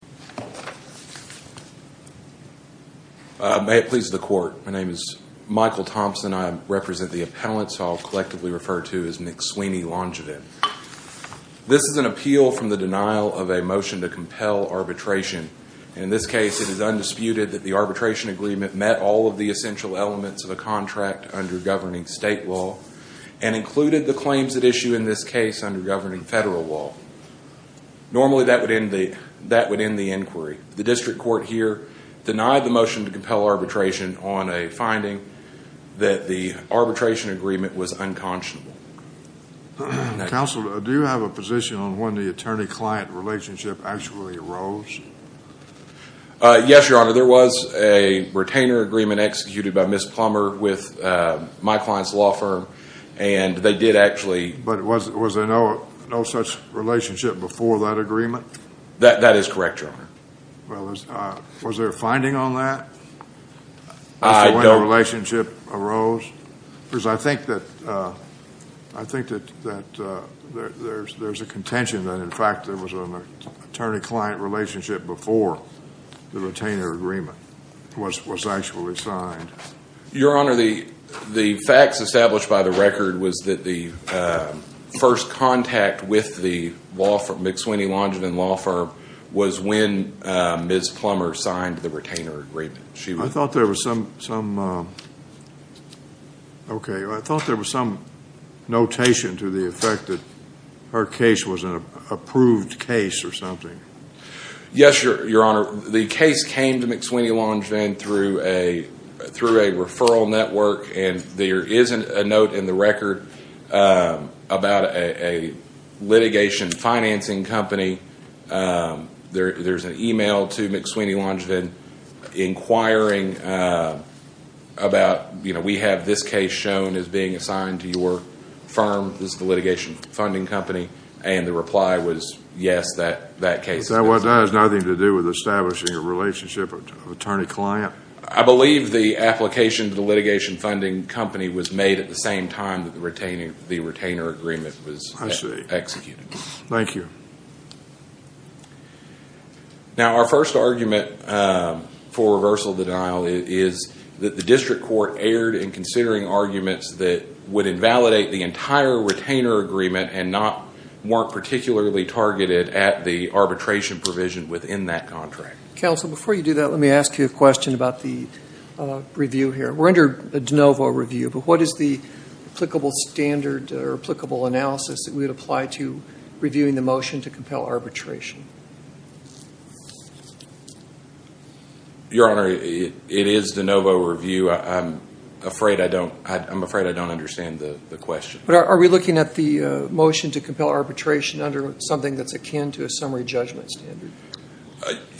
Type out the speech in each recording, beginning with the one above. This is an appeal from the denial of a motion to compel arbitration. In this case it is undisputed that the arbitration agreement met all of the essential elements of a contract under governing state law and included the claims at issue in this case under governing federal law. Normally that would end the inquiry. The district court here denied the motion to compel arbitration on a finding that the arbitration agreement was unconscionable. Counsel, do you have a position on when the attorney-client relationship actually arose? Yes, Your Honor. There was a retainer agreement executed by Ms. Plummer with my client's law firm and they did actually... But was there no such relationship before that agreement? That is correct, Your Honor. Well, was there a finding on that as to when the relationship arose? Because I think that there's a contention that in fact there was an attorney-client relationship before the retainer agreement was actually signed. Your Honor, the facts established by the record was that the first contact with the McSweeny Langevin law firm was when Ms. Plummer signed the retainer agreement. I thought there was some notation to the effect that her case was an approved case or something. Yes, Your Honor. The case came to McSweeny Langevin through a referral network and there isn't a note in the record about a litigation financing company. There's an email to McSweeny Langevin inquiring about, you know, we have this case shown as being assigned to your firm, this litigation funding company, and the reply was yes, that case... But that has nothing to do with establishing a relationship of attorney-client? I believe the application to the litigation funding company was made at the same time that the retainer agreement was executed. Thank you. Now, our first argument for reversal of the denial is that the district court erred in considering arguments that would invalidate the entire retainer agreement and weren't particularly targeted at the arbitration provision within that contract. Counsel, before you do that, let me ask you a question about the review here. We're under a de novo review, but what is the applicable standard or applicable analysis that we would apply to reviewing the motion to compel arbitration? Your Honor, it is de novo review. I'm afraid I don't understand the question. Are we looking at the motion to compel arbitration under something that's akin to a summary judgment standard?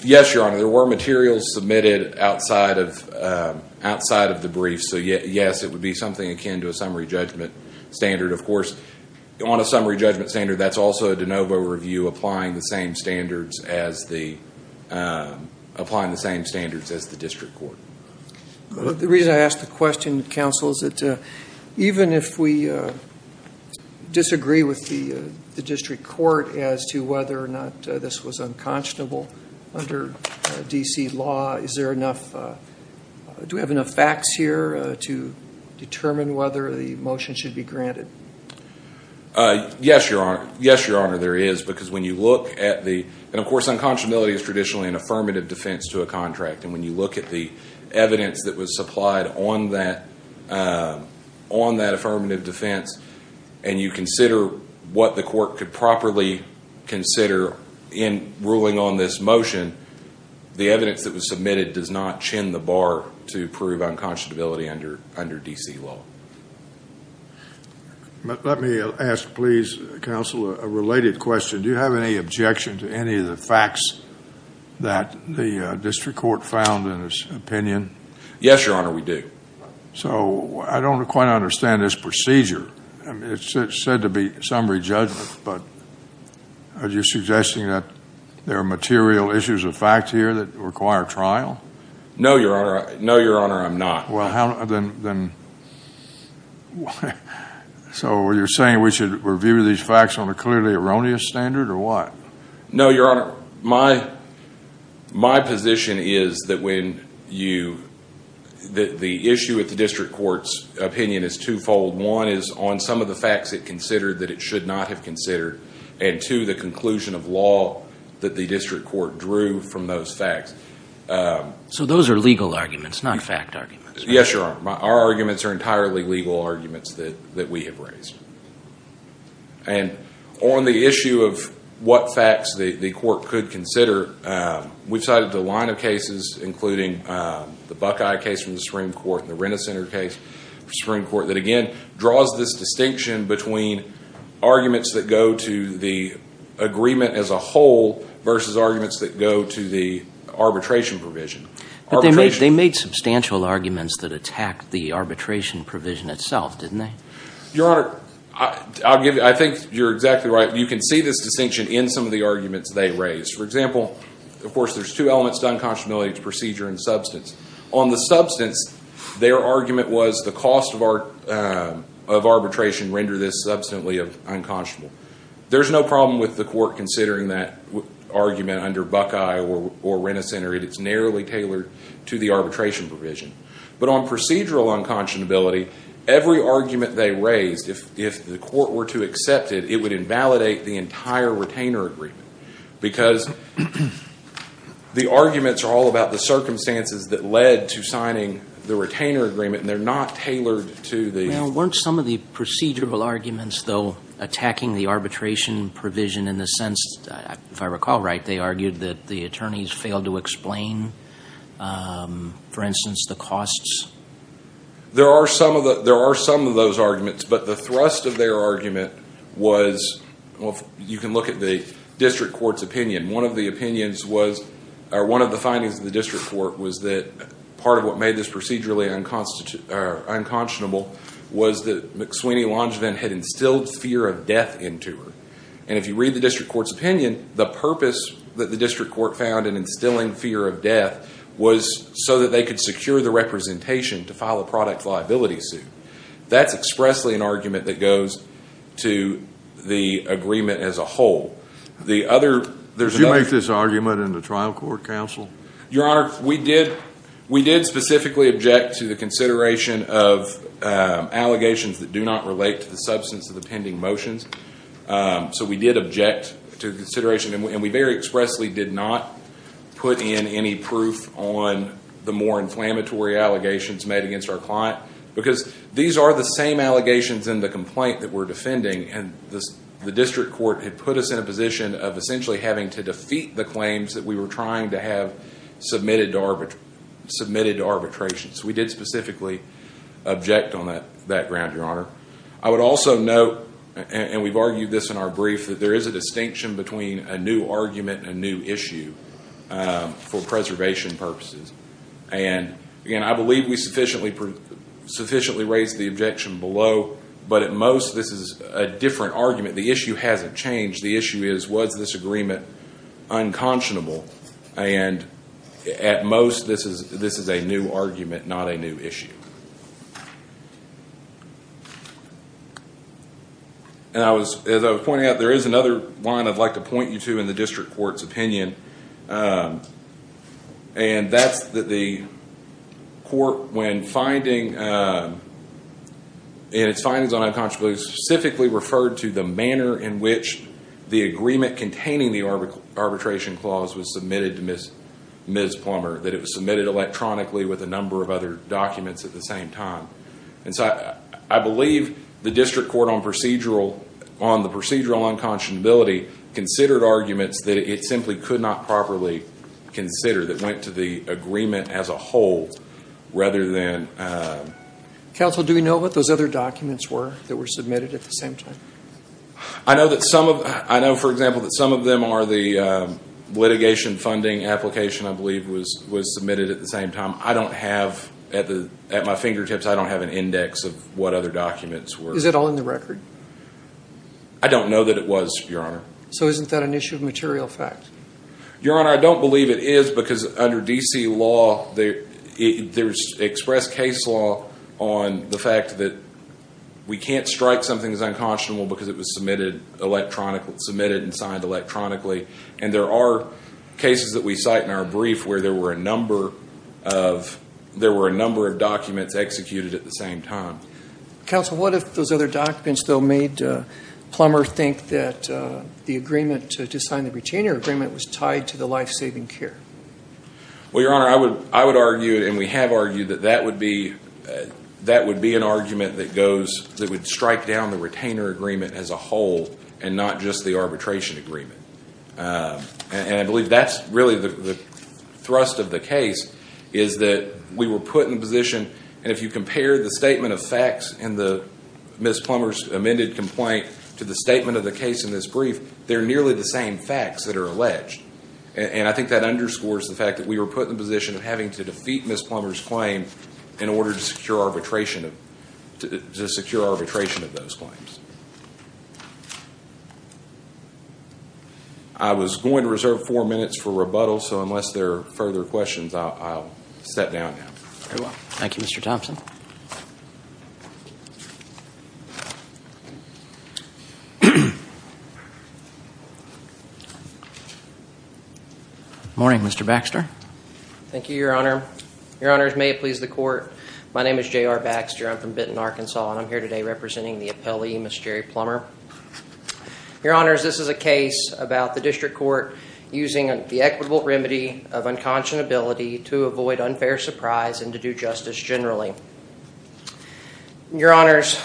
Yes, Your Honor. There were materials submitted outside of the brief, so yes, it would be something akin to a summary judgment standard. Of course, on a summary judgment standard, that's also a de novo review applying the same standards as the district court. The reason I ask the question, Counsel, is that even if we disagree with the district court as to whether or not this was unconscionable under D.C. law, do we have enough facts here to determine whether the motion should be granted? Yes, Your Honor, there is. Of course, unconscionability is traditionally an affirmative defense to a contract. When you look at the evidence that was supplied on that affirmative defense and you consider what the court could properly consider in ruling on this motion, the evidence that was submitted does not chin the bar to prove unconscionability under D.C. law. Let me ask, please, Counsel, a related question. Do you have any objection to any of the facts that the district court found in its opinion? Yes, Your Honor, we do. I don't quite understand this procedure. It's said to be summary judgment, but are you suggesting that there are material issues of fact here that require trial? No, Your Honor. No, Your Honor, I'm not. Well, then, so you're saying we should review these facts on a clearly erroneous standard or what? No, Your Honor, my position is that the issue at the district court's opinion is twofold. One is on some of the facts it considered that it should not have considered, and two, the conclusion of law that the district court drew from those facts. So those are legal arguments, not fact arguments? Yes, Your Honor. Our arguments are entirely legal arguments that we have raised. And on the issue of what facts the court could consider, we've cited a line of cases, including the Buckeye case from the Supreme Court and the Renner Center case from the Supreme Court, that again draws this distinction between arguments that go to the agreement as a whole versus arguments that go to the arbitration provision. But they made substantial arguments that attacked the arbitration provision itself, didn't they? Your Honor, I think you're exactly right. You can see this distinction in some of the arguments they raised. For example, of course, there's two elements to unconscionability, it's procedure and substance. On the substance, their argument was the cost of arbitration render this substantially unconscionable. There's no problem with the court considering that argument under Buckeye or Renner Center. It's narrowly tailored to the arbitration provision. But on procedural unconscionability, every argument they raised, if the court were to accept it, it would invalidate the entire retainer agreement. Because the arguments are all about the circumstances that led to signing the retainer agreement, and they're not tailored to the... Now, weren't some of the procedural arguments, though, attacking the arbitration provision in the sense that, if I recall right, they argued that the attorneys failed to explain, for instance, the costs? There are some of those arguments, but the thrust of their argument was, well, you can look at the district court's opinion. One of the opinions was, or one of the findings of the district court was that part of what made this procedurally unconscionable was that McSweeny Langevin had instilled fear of death into her. And if you read the district court's opinion, the purpose that the district court found in instilling fear of death was so that they could secure the representation to file a product liability suit. That's expressly an argument that goes to the agreement as a whole. Did you make this argument in the trial court, counsel? Your Honor, we did specifically object to the consideration of allegations that do not relate to the substance of the pending motions. So we did object to the consideration, and we very expressly did not put in any proof on the more inflammatory allegations made against our client. Because these are the same allegations in the complaint that we're in a position of essentially having to defeat the claims that we were trying to have submitted to arbitration. So we did specifically object on that ground, Your Honor. I would also note, and we've argued this in our brief, that there is a distinction between a new argument and a new issue for preservation purposes. And again, I believe we sufficiently raised the objection below, but at most this is a different argument. The issue hasn't changed. The issue is, was this agreement unconscionable? And at most this is a new argument, not a new issue. As I was pointing out, there is another line I'd like to point you to in the district court's opinion. And that's that the court, in its findings on unconscionability, specifically referred to the manner in which the agreement containing the arbitration clause was submitted to Ms. Plummer. That it was submitted electronically with a number of other documents at the same time. And so I believe the district court on procedural, on the procedural unconscionability, considered arguments that it simply could not properly consider that went to the agreement as a whole, rather than... Counsel, do we know what those other documents were that were submitted at the same time? I know that some of... I know, for example, that some of them are the litigation funding application I believe was submitted at the same time. I don't have, at my fingertips, I don't have an index of what other documents were. Is it all in the record? I don't know that it was, Your Honor. So isn't that an issue of material fact? Your Honor, I don't believe it is, because under D.C. law, there's expressed case law on the fact that we can't strike something as unconscionable because it was submitted and signed electronically. And there are cases that we cite in our brief where there were a number of, there were a number of documents executed at the same time. Counsel, what if those other documents, though, made Plummer think that the agreement to sign the retainer agreement was tied to the life-saving care? Well, Your Honor, I would argue, and we have argued, that that would be an argument that goes, that would strike down the retainer agreement as a whole, and not just the arbitration agreement. And I believe that's really the thrust of the case, is that we were put in position, and if you compare the statement of facts in Ms. Plummer's amended complaint to the statement of the case in this brief, they're nearly the same facts that are alleged. And I think that underscores the fact that we were put in the position of having to defeat Ms. Plummer's claim in order to secure arbitration, to secure arbitration of those claims. I was going to reserve four minutes for rebuttal, so unless there are further questions, I'll step down now. Very well. Thank you, Mr. Thompson. Good morning, Mr. Baxter. Thank you, Your Honor. Your Honors, may it please the Court, my name is J.R. Baxter. I'm from Benton, Arkansas, and I'm here today representing the appellee, Ms. Jerry Plummer. Your Honors, this is a case about the District Court using the equitable remedy of unconscionability to avoid unfair surprise and to do justice generally. Your Honors,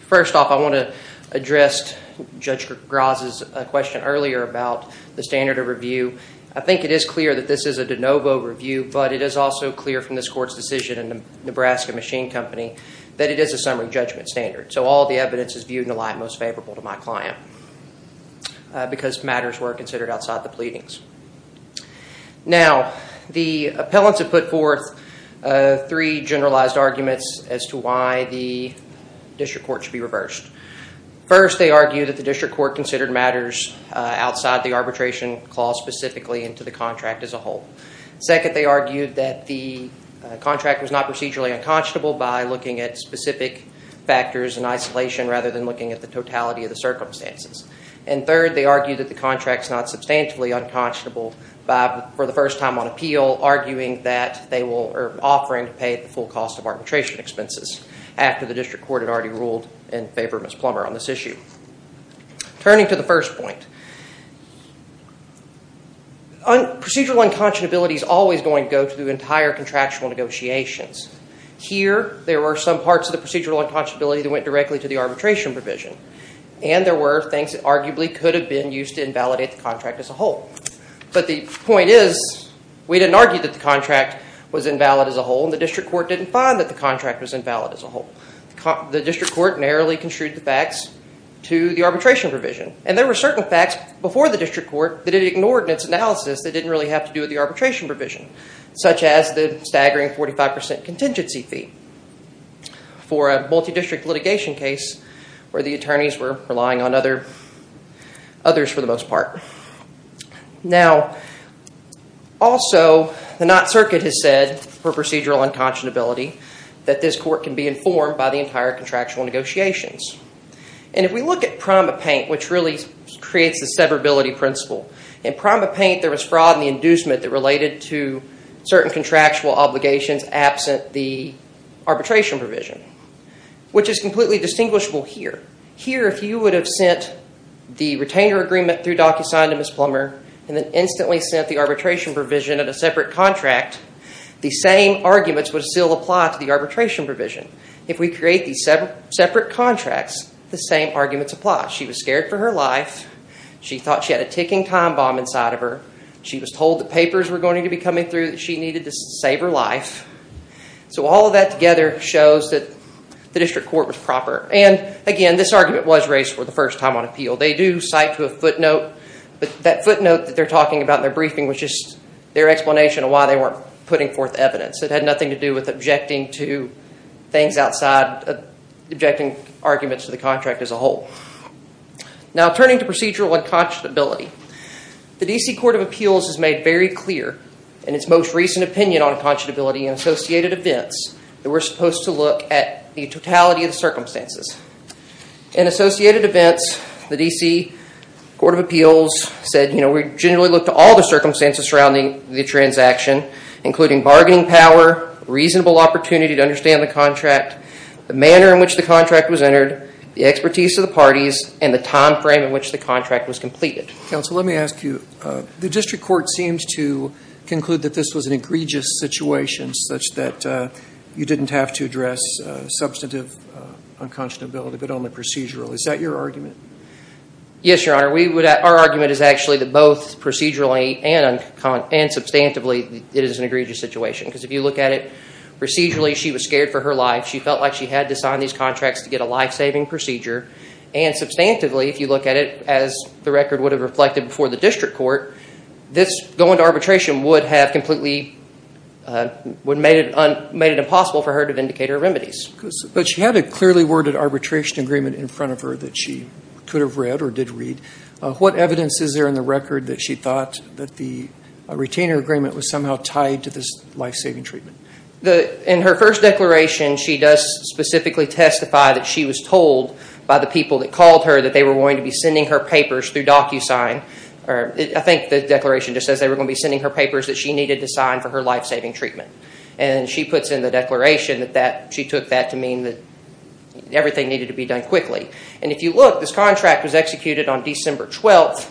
first off, I want to address Judge Graz's question earlier about the standard of review. I think it is clear that this is a de novo review, but it is also clear from this Court's decision in the Nebraska Machine Company that it is a summary judgment standard. So all the evidence is viewed in a light most favorable to my client, because matters were considered outside the pleadings. Now, the appellants have put forth three generalized arguments as to why the District Court should be reversed. First, they argue that the District Court considered matters outside the arbitration clause specifically and to the contract as a whole. Second, they argued that the contract was not procedurally unconscionable by looking at specific factors and isolation rather than looking at the totality of the circumstances. And third, they argued that the contract is not substantially unconscionable for the first time on appeal, arguing that they were offering to pay the full cost of arbitration expenses after the District Court had already ruled in favor of Ms. Plummer on this issue. Turning to the first point, procedural unconscionability is always going to go to the entire contractual negotiations. Here, there were some parts of the procedural unconscionability that went directly to the proceedings that arguably could have been used to invalidate the contract as a whole. But the point is, we didn't argue that the contract was invalid as a whole, and the District Court didn't find that the contract was invalid as a whole. The District Court narrowly construed the facts to the arbitration provision, and there were certain facts before the District Court that it ignored in its analysis that didn't really have to do with the arbitration provision, such as the staggering 45% contingency fee. For a multi-district litigation case where the attorneys were relying on others for the most part. Now, also, the Knott Circuit has said for procedural unconscionability that this court can be informed by the entire contractual negotiations. And if we look at PrimaPaint, which really creates the severability principle, in PrimaPaint there was fraud in the inducement that related to certain contractual obligations absent the arbitration provision, which is completely distinguishable here. Here if you would have sent the retainer agreement through DocuSign to Ms. Plummer and then instantly sent the arbitration provision at a separate contract, the same arguments would still apply to the arbitration provision. If we create these separate contracts, the same arguments apply. She was scared for her life. She thought she had a ticking time bomb inside of her. She was told the papers were going to be coming through that she needed to save her life. So all of that together shows that the district court was proper. And again, this argument was raised for the first time on appeal. They do cite to a footnote, but that footnote that they're talking about in their briefing was just their explanation of why they weren't putting forth evidence. It had nothing to do with objecting to things outside, objecting arguments to the contract as a whole. Now, turning to procedural unconscionability. The D.C. Court of Appeals has made very clear in its most recent opinion on unconscionability and associated events that we're supposed to look at the totality of the circumstances. In associated events, the D.C. Court of Appeals said, you know, we generally look to all the circumstances surrounding the transaction, including bargaining power, reasonable opportunity to understand the contract, the manner in which the contract was entered, the expertise of the parties, and the time frame in which the contract was completed. Counsel, let me ask you, the district court seemed to conclude that this was an egregious situation such that you didn't have to address substantive unconscionability, but only procedural. Is that your argument? Yes, Your Honor. We would, our argument is actually that both procedurally and substantively it is an egregious situation because if you look at it, procedurally she was scared for her life. She felt like she had to sign these contracts to get a life-saving procedure, and substantively if you look at it as the record would have reflected before the district court, this going to arbitration would have completely, would have made it impossible for her to vindicate her remedies. But she had a clearly worded arbitration agreement in front of her that she could have read or did read. What evidence is there in the record that she thought that the retainer agreement was somehow tied to this life-saving treatment? In her first declaration, she does specifically testify that she was told by the people that called her that they were going to be sending her papers through DocuSign, I think the declaration just says they were going to be sending her papers that she needed to sign for her life-saving treatment. And she puts in the declaration that she took that to mean that everything needed to be done quickly. And if you look, this contract was executed on December 12th,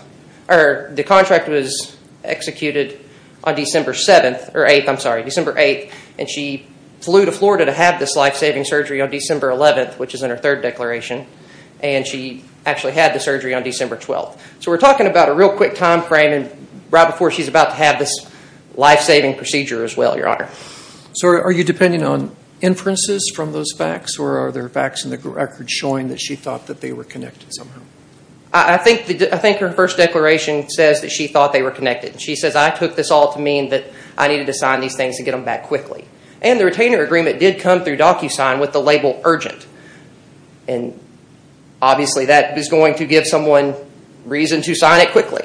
or the contract was executed on December 7th, or 8th, I'm sorry, December 8th, and she flew to Florida to have this life-saving surgery on December 11th, which is in her third declaration, and she actually had the surgery on December 12th. So we're talking about a real quick time frame right before she's about to have this life-saving procedure as well, Your Honor. So are you depending on inferences from those facts, or are there facts in the record showing that she thought that they were connected somehow? I think her first declaration says that she thought they were connected. She says, I took this all to mean that I needed to sign these things to get them back quickly. And the retainer agreement did come through DocuSign with the label urgent. And obviously that is going to give someone reason to sign it quickly.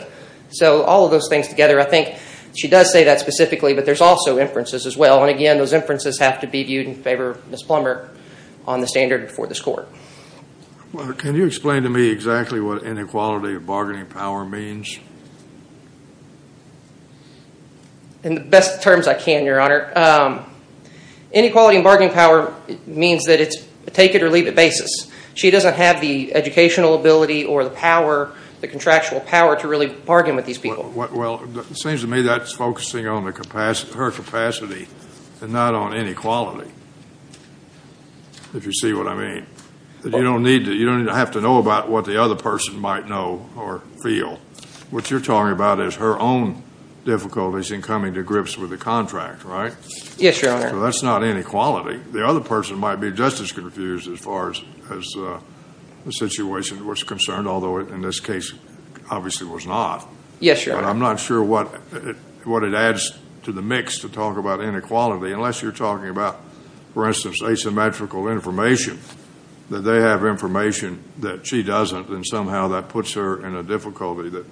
So all of those things together, I think she does say that specifically, but there's also inferences as well. And again, those inferences have to be viewed in favor of Ms. Plummer on the standard before this Court. Well, can you explain to me exactly what inequality of bargaining power means? In the best terms I can, Your Honor. Inequality of bargaining power means that it's a take-it-or-leave-it basis. She doesn't have the educational ability or the power, the contractual power, to really bargain with these people. Well, it seems to me that's focusing on her capacity and not on inequality, if you see what I mean. That you don't need to have to know about what the other person might know or feel. What you're talking about is her own difficulties in coming to grips with the contract, right? Yes, Your Honor. So that's not inequality. The other person might be just as confused as far as the situation was concerned, although in this case, obviously was not. Yes, Your Honor. But I'm not sure what it adds to the mix to talk about inequality, unless you're talking about, for instance, asymmetrical information, that they have information that she doesn't, and somehow that puts her in a difficulty that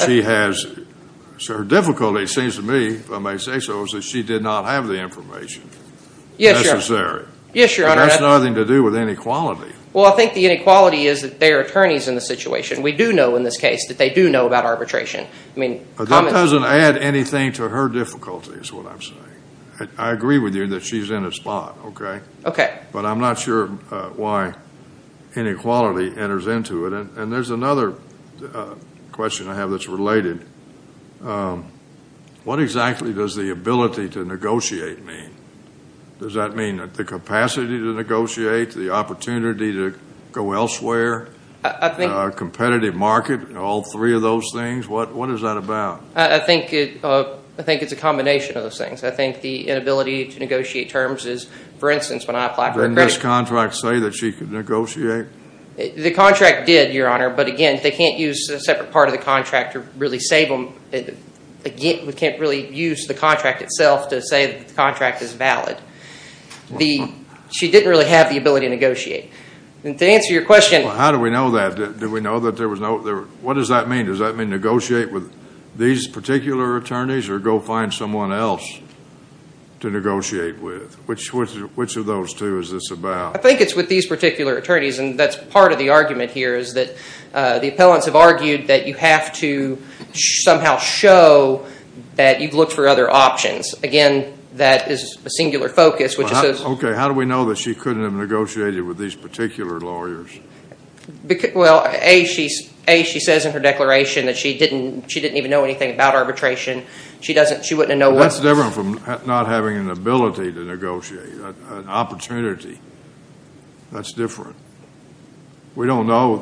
she has. Well, I... So her difficulty, it seems to me, if I may say so, is that she did not have the information necessary. Yes, Your Honor. Yes, Your Honor. But that's nothing to do with inequality. Well, I think the inequality is that they are attorneys in the situation. We do know in this case that they do know about arbitration. I mean, common... But that doesn't add anything to her difficulty, is what I'm saying. I agree with you that she's in a spot, okay? Okay. But I'm not sure why inequality enters into it. And there's another question I have that's related. What exactly does the ability to negotiate mean? Does that mean the capacity to negotiate, the opportunity to go elsewhere, competitive market, all three of those things? What is that about? I think it's a combination of those things. I think the inability to negotiate terms is, for instance, when I apply for a credit... Didn't this contract say that she could negotiate? The contract did, Your Honor. But again, they can't use a separate part of the contract to really save them. Again, we can't really use the contract itself to say that the contract is valid. She didn't really have the ability to negotiate. And to answer your question... Well, how do we know that? Do we know that there was no... What does that mean? Does that mean negotiate with these particular attorneys or go find someone else to negotiate with? Which of those two is this about? I think it's with these particular attorneys. And that's part of the argument here is that the appellants have argued that you have to somehow show that you've looked for other options. Again, that is a singular focus, which is... Okay. How do we know that she couldn't have negotiated with these particular lawyers? Well, A, she says in her declaration that she didn't even know anything about arbitration. She wouldn't have known what... That's different from not having an ability to negotiate, an opportunity. That's different. We don't know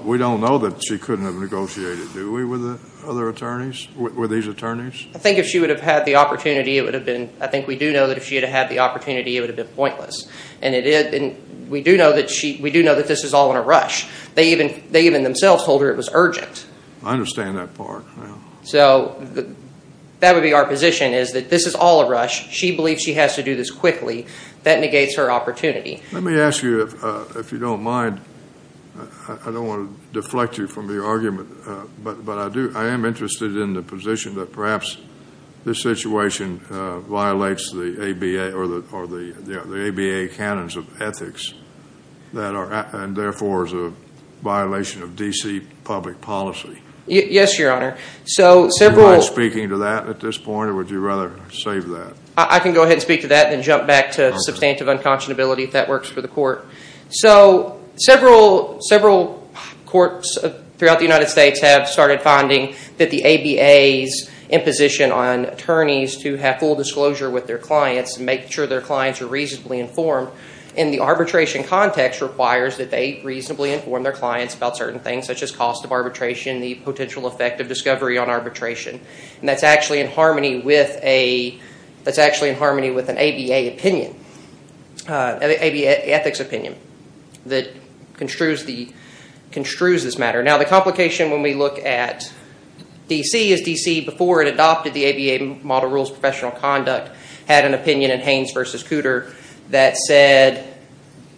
that she couldn't have negotiated, do we, with other attorneys, with these attorneys? I think if she would have had the opportunity, it would have been... I think we do know that if she had had the opportunity, it would have been pointless. And we do know that this is all in a rush. They even themselves told her it was urgent. I understand that part. So that would be our position, is that this is all a rush. She believes she has to do this quickly. That negates her opportunity. Let me ask you, if you don't mind, I don't want to deflect you from the argument, but I am interested in the position that perhaps this situation violates the ABA or the ABA canons of ethics, and therefore is a violation of D.C. public policy. Yes, Your Honor. So several... Do you mind speaking to that at this point, or would you rather save that? I can go ahead and speak to that and then jump back to substantive unconscionability if that works for the court. So several courts throughout the United States have started finding that the ABA's imposition on attorneys to have full disclosure with their clients, make sure their clients are reasonably informed in the arbitration context requires that they reasonably inform their clients about certain things, such as cost of arbitration, the potential effect of discovery on arbitration. And that's actually in harmony with an ABA opinion, ABA ethics opinion, that construes this matter. Now the complication when we look at D.C. is D.C. before it adopted the ABA model rules professional conduct had an opinion in Haynes v. Cooter that said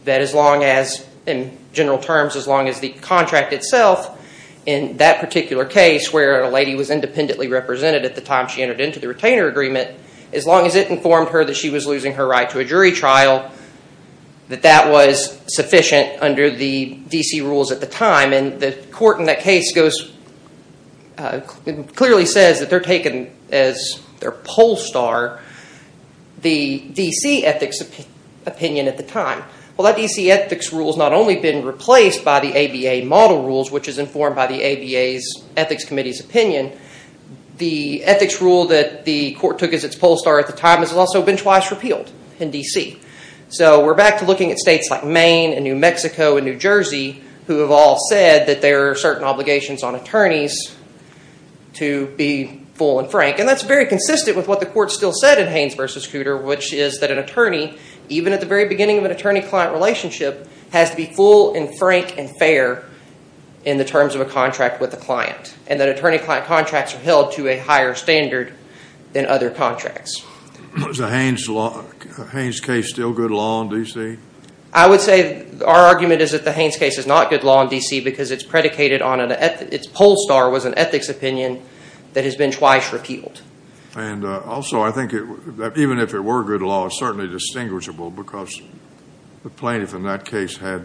that as long as, in general terms, as long as the contract itself in that particular case where a lady was independently represented at the time she entered into the retainer agreement, as long as it informed her that she was losing her right to a jury trial, that that was sufficient under the D.C. rules at the time. And the court in that case goes, clearly says that they're taking as their poll star the D.C. ethics opinion at the time. Well that D.C. ethics rule has not only been replaced by the ABA model rules, which is the ethics rule that the court took as its poll star at the time has also been twice repealed in D.C. So we're back to looking at states like Maine and New Mexico and New Jersey who have all said that there are certain obligations on attorneys to be full and frank. And that's very consistent with what the court still said in Haynes v. Cooter, which is that an attorney, even at the very beginning of an attorney-client relationship, has to be full and frank and fair in the terms of a contract with a client. And that attorney-client contracts are held to a higher standard than other contracts. Is the Haynes case still good law in D.C.? I would say our argument is that the Haynes case is not good law in D.C. because it's predicated on an ethics, its poll star was an ethics opinion that has been twice repealed. And also I think that even if it were good law, it's certainly distinguishable because the plaintiff in that case had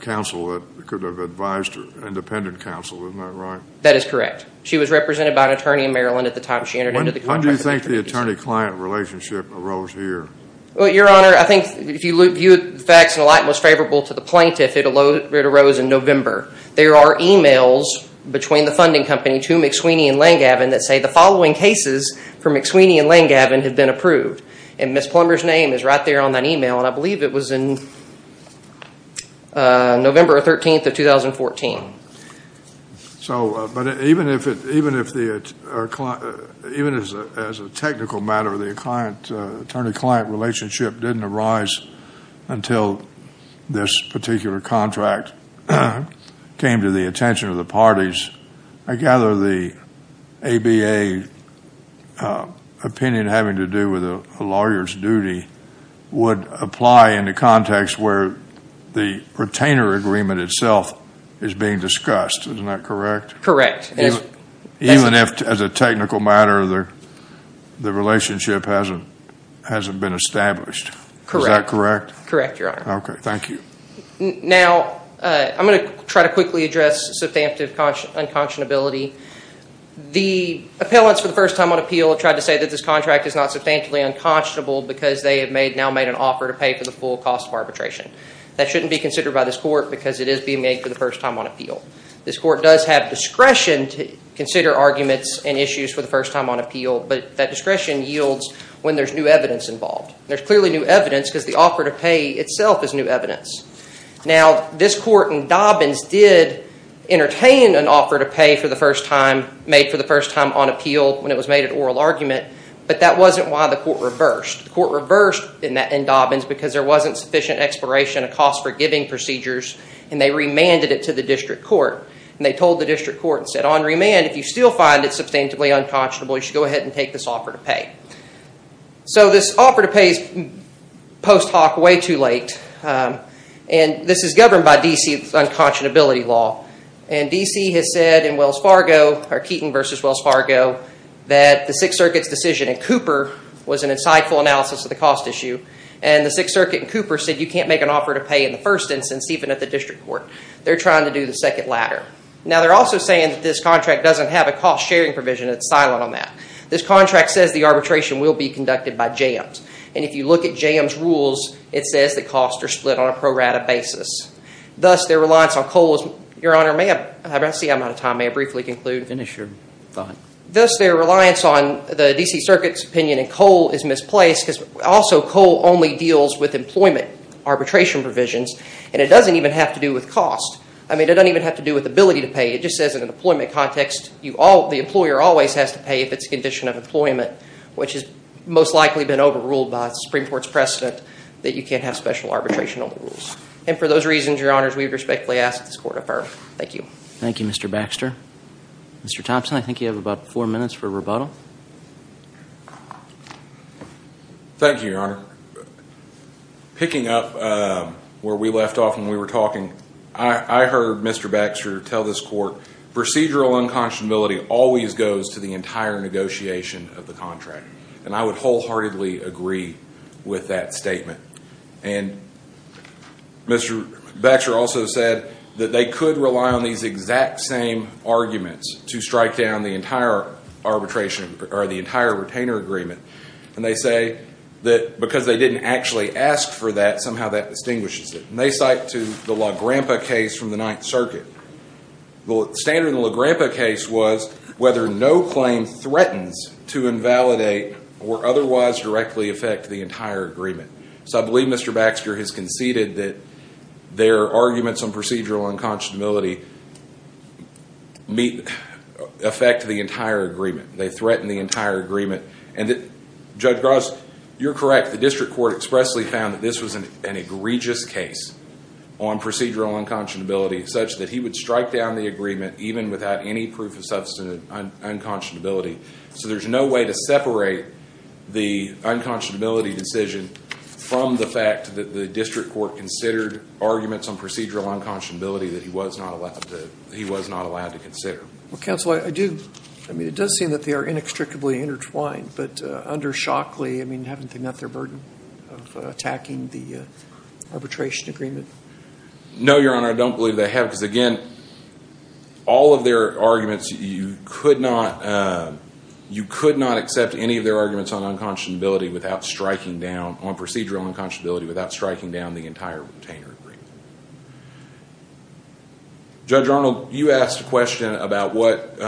counsel that could have advised her, independent counsel, isn't that right? That is correct. She was represented by an attorney in Maryland at the time she entered into the contract. When do you think the attorney-client relationship arose here? Well, Your Honor, I think if you view the facts in a light most favorable to the plaintiff, it arose in November. There are emails between the funding company to McSweeney and Langavin that say the following cases for McSweeney and Langavin have been approved. And Ms. Plummer's name is right there on that email, and I believe it was in November 13th of 2014. So, but even if it, even if the, even as a technical matter, the attorney-client relationship didn't arise until this particular contract came to the attention of the parties, I gather the ABA opinion having to do with a lawyer's duty would apply in the context where the case is being discussed. Isn't that correct? Correct. Even if, as a technical matter, the relationship hasn't, hasn't been established. Correct. Is that correct? Correct, Your Honor. Okay. Thank you. Now, I'm going to try to quickly address substantive unconscionability. The appellants for the first time on appeal have tried to say that this contract is not substantively unconscionable because they have now made an offer to pay for the full cost of arbitration. That shouldn't be considered by this court because it is being made for the first time on appeal. This court does have discretion to consider arguments and issues for the first time on appeal, but that discretion yields when there's new evidence involved. There's clearly new evidence because the offer to pay itself is new evidence. Now, this court in Dobbins did entertain an offer to pay for the first time, made for the first time on appeal when it was made an oral argument, but that wasn't why the court reversed. The court reversed in Dobbins because there wasn't sufficient exploration of cost-forgiving procedures and they remanded it to the district court. They told the district court and said, on remand, if you still find it substantively unconscionable, you should go ahead and take this offer to pay. So this offer to pay is post hoc way too late, and this is governed by D.C.'s unconscionability law. D.C. has said in Wells Fargo, or Keaton v. Wells Fargo, that the Sixth Circuit's decision in Cooper was an insightful analysis of the cost issue, and the Sixth Circuit in Cooper said you can't make an offer to pay in the first instance, even at the district court. They're trying to do the second ladder. Now, they're also saying that this contract doesn't have a cost-sharing provision. It's silent on that. This contract says the arbitration will be conducted by jams, and if you look at jams' rules, it says the costs are split on a pro-rata basis. Thus their reliance on coal is, Your Honor, I see I'm out of time. May I briefly conclude? Finish your thought. Thus their reliance on the D.C. Circuit's opinion in coal is misplaced because also coal only deals with employment arbitration provisions, and it doesn't even have to do with cost. I mean, it doesn't even have to do with ability to pay. It just says in an employment context the employer always has to pay if it's a condition of employment, which has most likely been overruled by the Supreme Court's precedent that you can't have special arbitration on the rules. And for those reasons, Your Honors, we would respectfully ask that this Court affirm. Thank you. Thank you, Mr. Baxter. Mr. Thompson, I think you have about four minutes for rebuttal. Thank you, Your Honor. Picking up where we left off when we were talking, I heard Mr. Baxter tell this Court procedural unconscionability always goes to the entire negotiation of the contract, and I would wholeheartedly agree with that statement. And Mr. Baxter also said that they could rely on these exact same arguments to strike down the entire arbitration, or the entire retainer agreement, and they say that because they didn't actually ask for that, somehow that distinguishes it. And they cite to the LaGranpa case from the Ninth Circuit. The standard in the LaGranpa case was whether no claim threatens to invalidate or otherwise directly affect the entire agreement. So I believe Mr. Baxter has conceded that their arguments on procedural unconscionability affect the entire agreement. They threaten the entire agreement. And Judge Gross, you're correct. The District Court expressly found that this was an egregious case on procedural unconscionability such that he would strike down the agreement even without any proof of substantive unconscionability. So there's no way to separate the unconscionability decision from the fact that the District Court considered arguments on procedural unconscionability that he was not allowed to consider. Well, Counsel, I do. I mean, it does seem that they are inextricably intertwined, but under Shockley, I mean, haven't they met their burden of attacking the arbitration agreement? No, Your Honor, I don't believe they have. Because again, all of their arguments, you could not accept any of their arguments on unconscionability without striking down, on procedural unconscionability without striking down the entire retainer agreement. Judge Arnold, you asked a question about what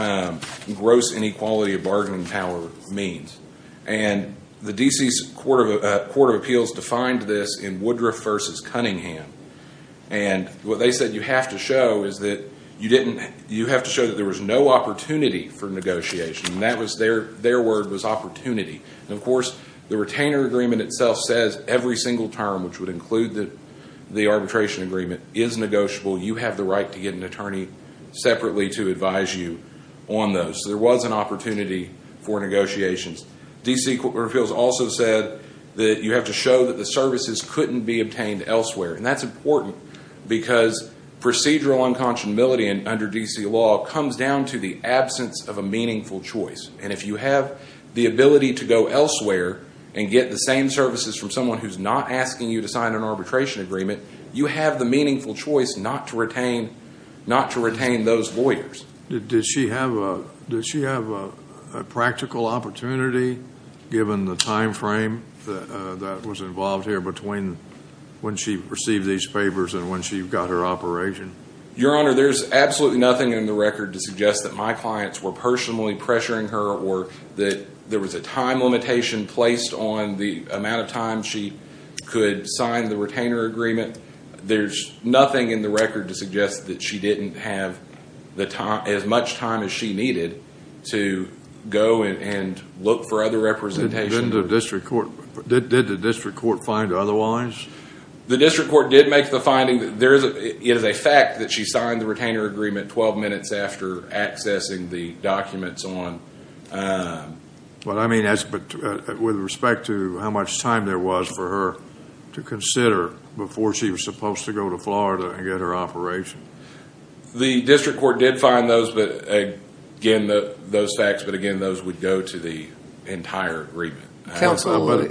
gross inequality of bargaining power means. And the D.C.'s Court of Appeals defined this in Woodruff v. Cunningham. And what they said you have to show is that you have to show that there was no opportunity for negotiation. And that was their word was opportunity. And of course, the retainer agreement itself says every single term, which would include the arbitration agreement, is negotiable. You have the right to get an attorney separately to advise you on those. So there was an opportunity for negotiations. D.C. Court of Appeals also said that you have to show that the services couldn't be obtained elsewhere. And that's important because procedural unconscionability under D.C. law comes down to the absence of a meaningful choice. And if you have the ability to go elsewhere and get the same services from someone who's not asking you to sign an arbitration agreement, you have the meaningful choice not to retain those lawyers. Did she have a practical opportunity given the time frame that was involved here between when she received these favors and when she got her operation? Your Honor, there's absolutely nothing in the record to suggest that my clients were personally pressuring her or that there was a time limitation placed on the amount of time she could sign the retainer agreement. There's nothing in the record to suggest that she didn't have as much time as she needed to go and look for other representation. Did the district court find otherwise? The district court did make the finding that it is a fact that she signed the retainer agreement 12 minutes after accessing the documents on. What I mean is with respect to how much time there was for her to consider before she was supposed to go to Florida and get her operation. The district court did find those facts, but again, those would go to the entire agreement. Counsel,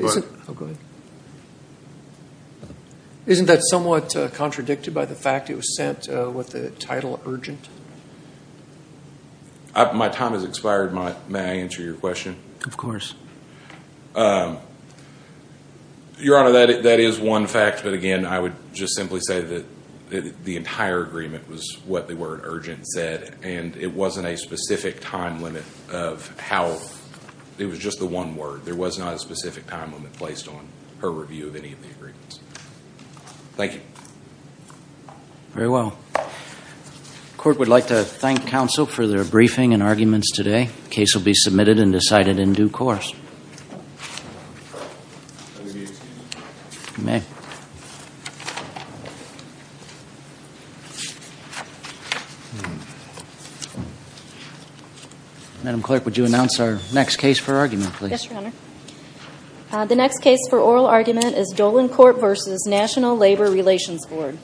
isn't that somewhat contradicted by the fact it was sent with the title urgent? My time has expired. May I answer your question? Of course. Your Honor, that is one fact, but again, I would just simply say that the entire agreement was what the word urgent said and it wasn't a specific time limit of how, it was just the one word. There was not a specific time limit placed on her review of any of the agreements. Thank you. Very well. The court would like to thank counsel for their briefing and arguments today. The case will be submitted and decided in due course. Madam Clerk, would you announce our next case for argument, please? Yes, Your Honor. The next case for oral argument is Dolan Court v. National Labor Relations Board.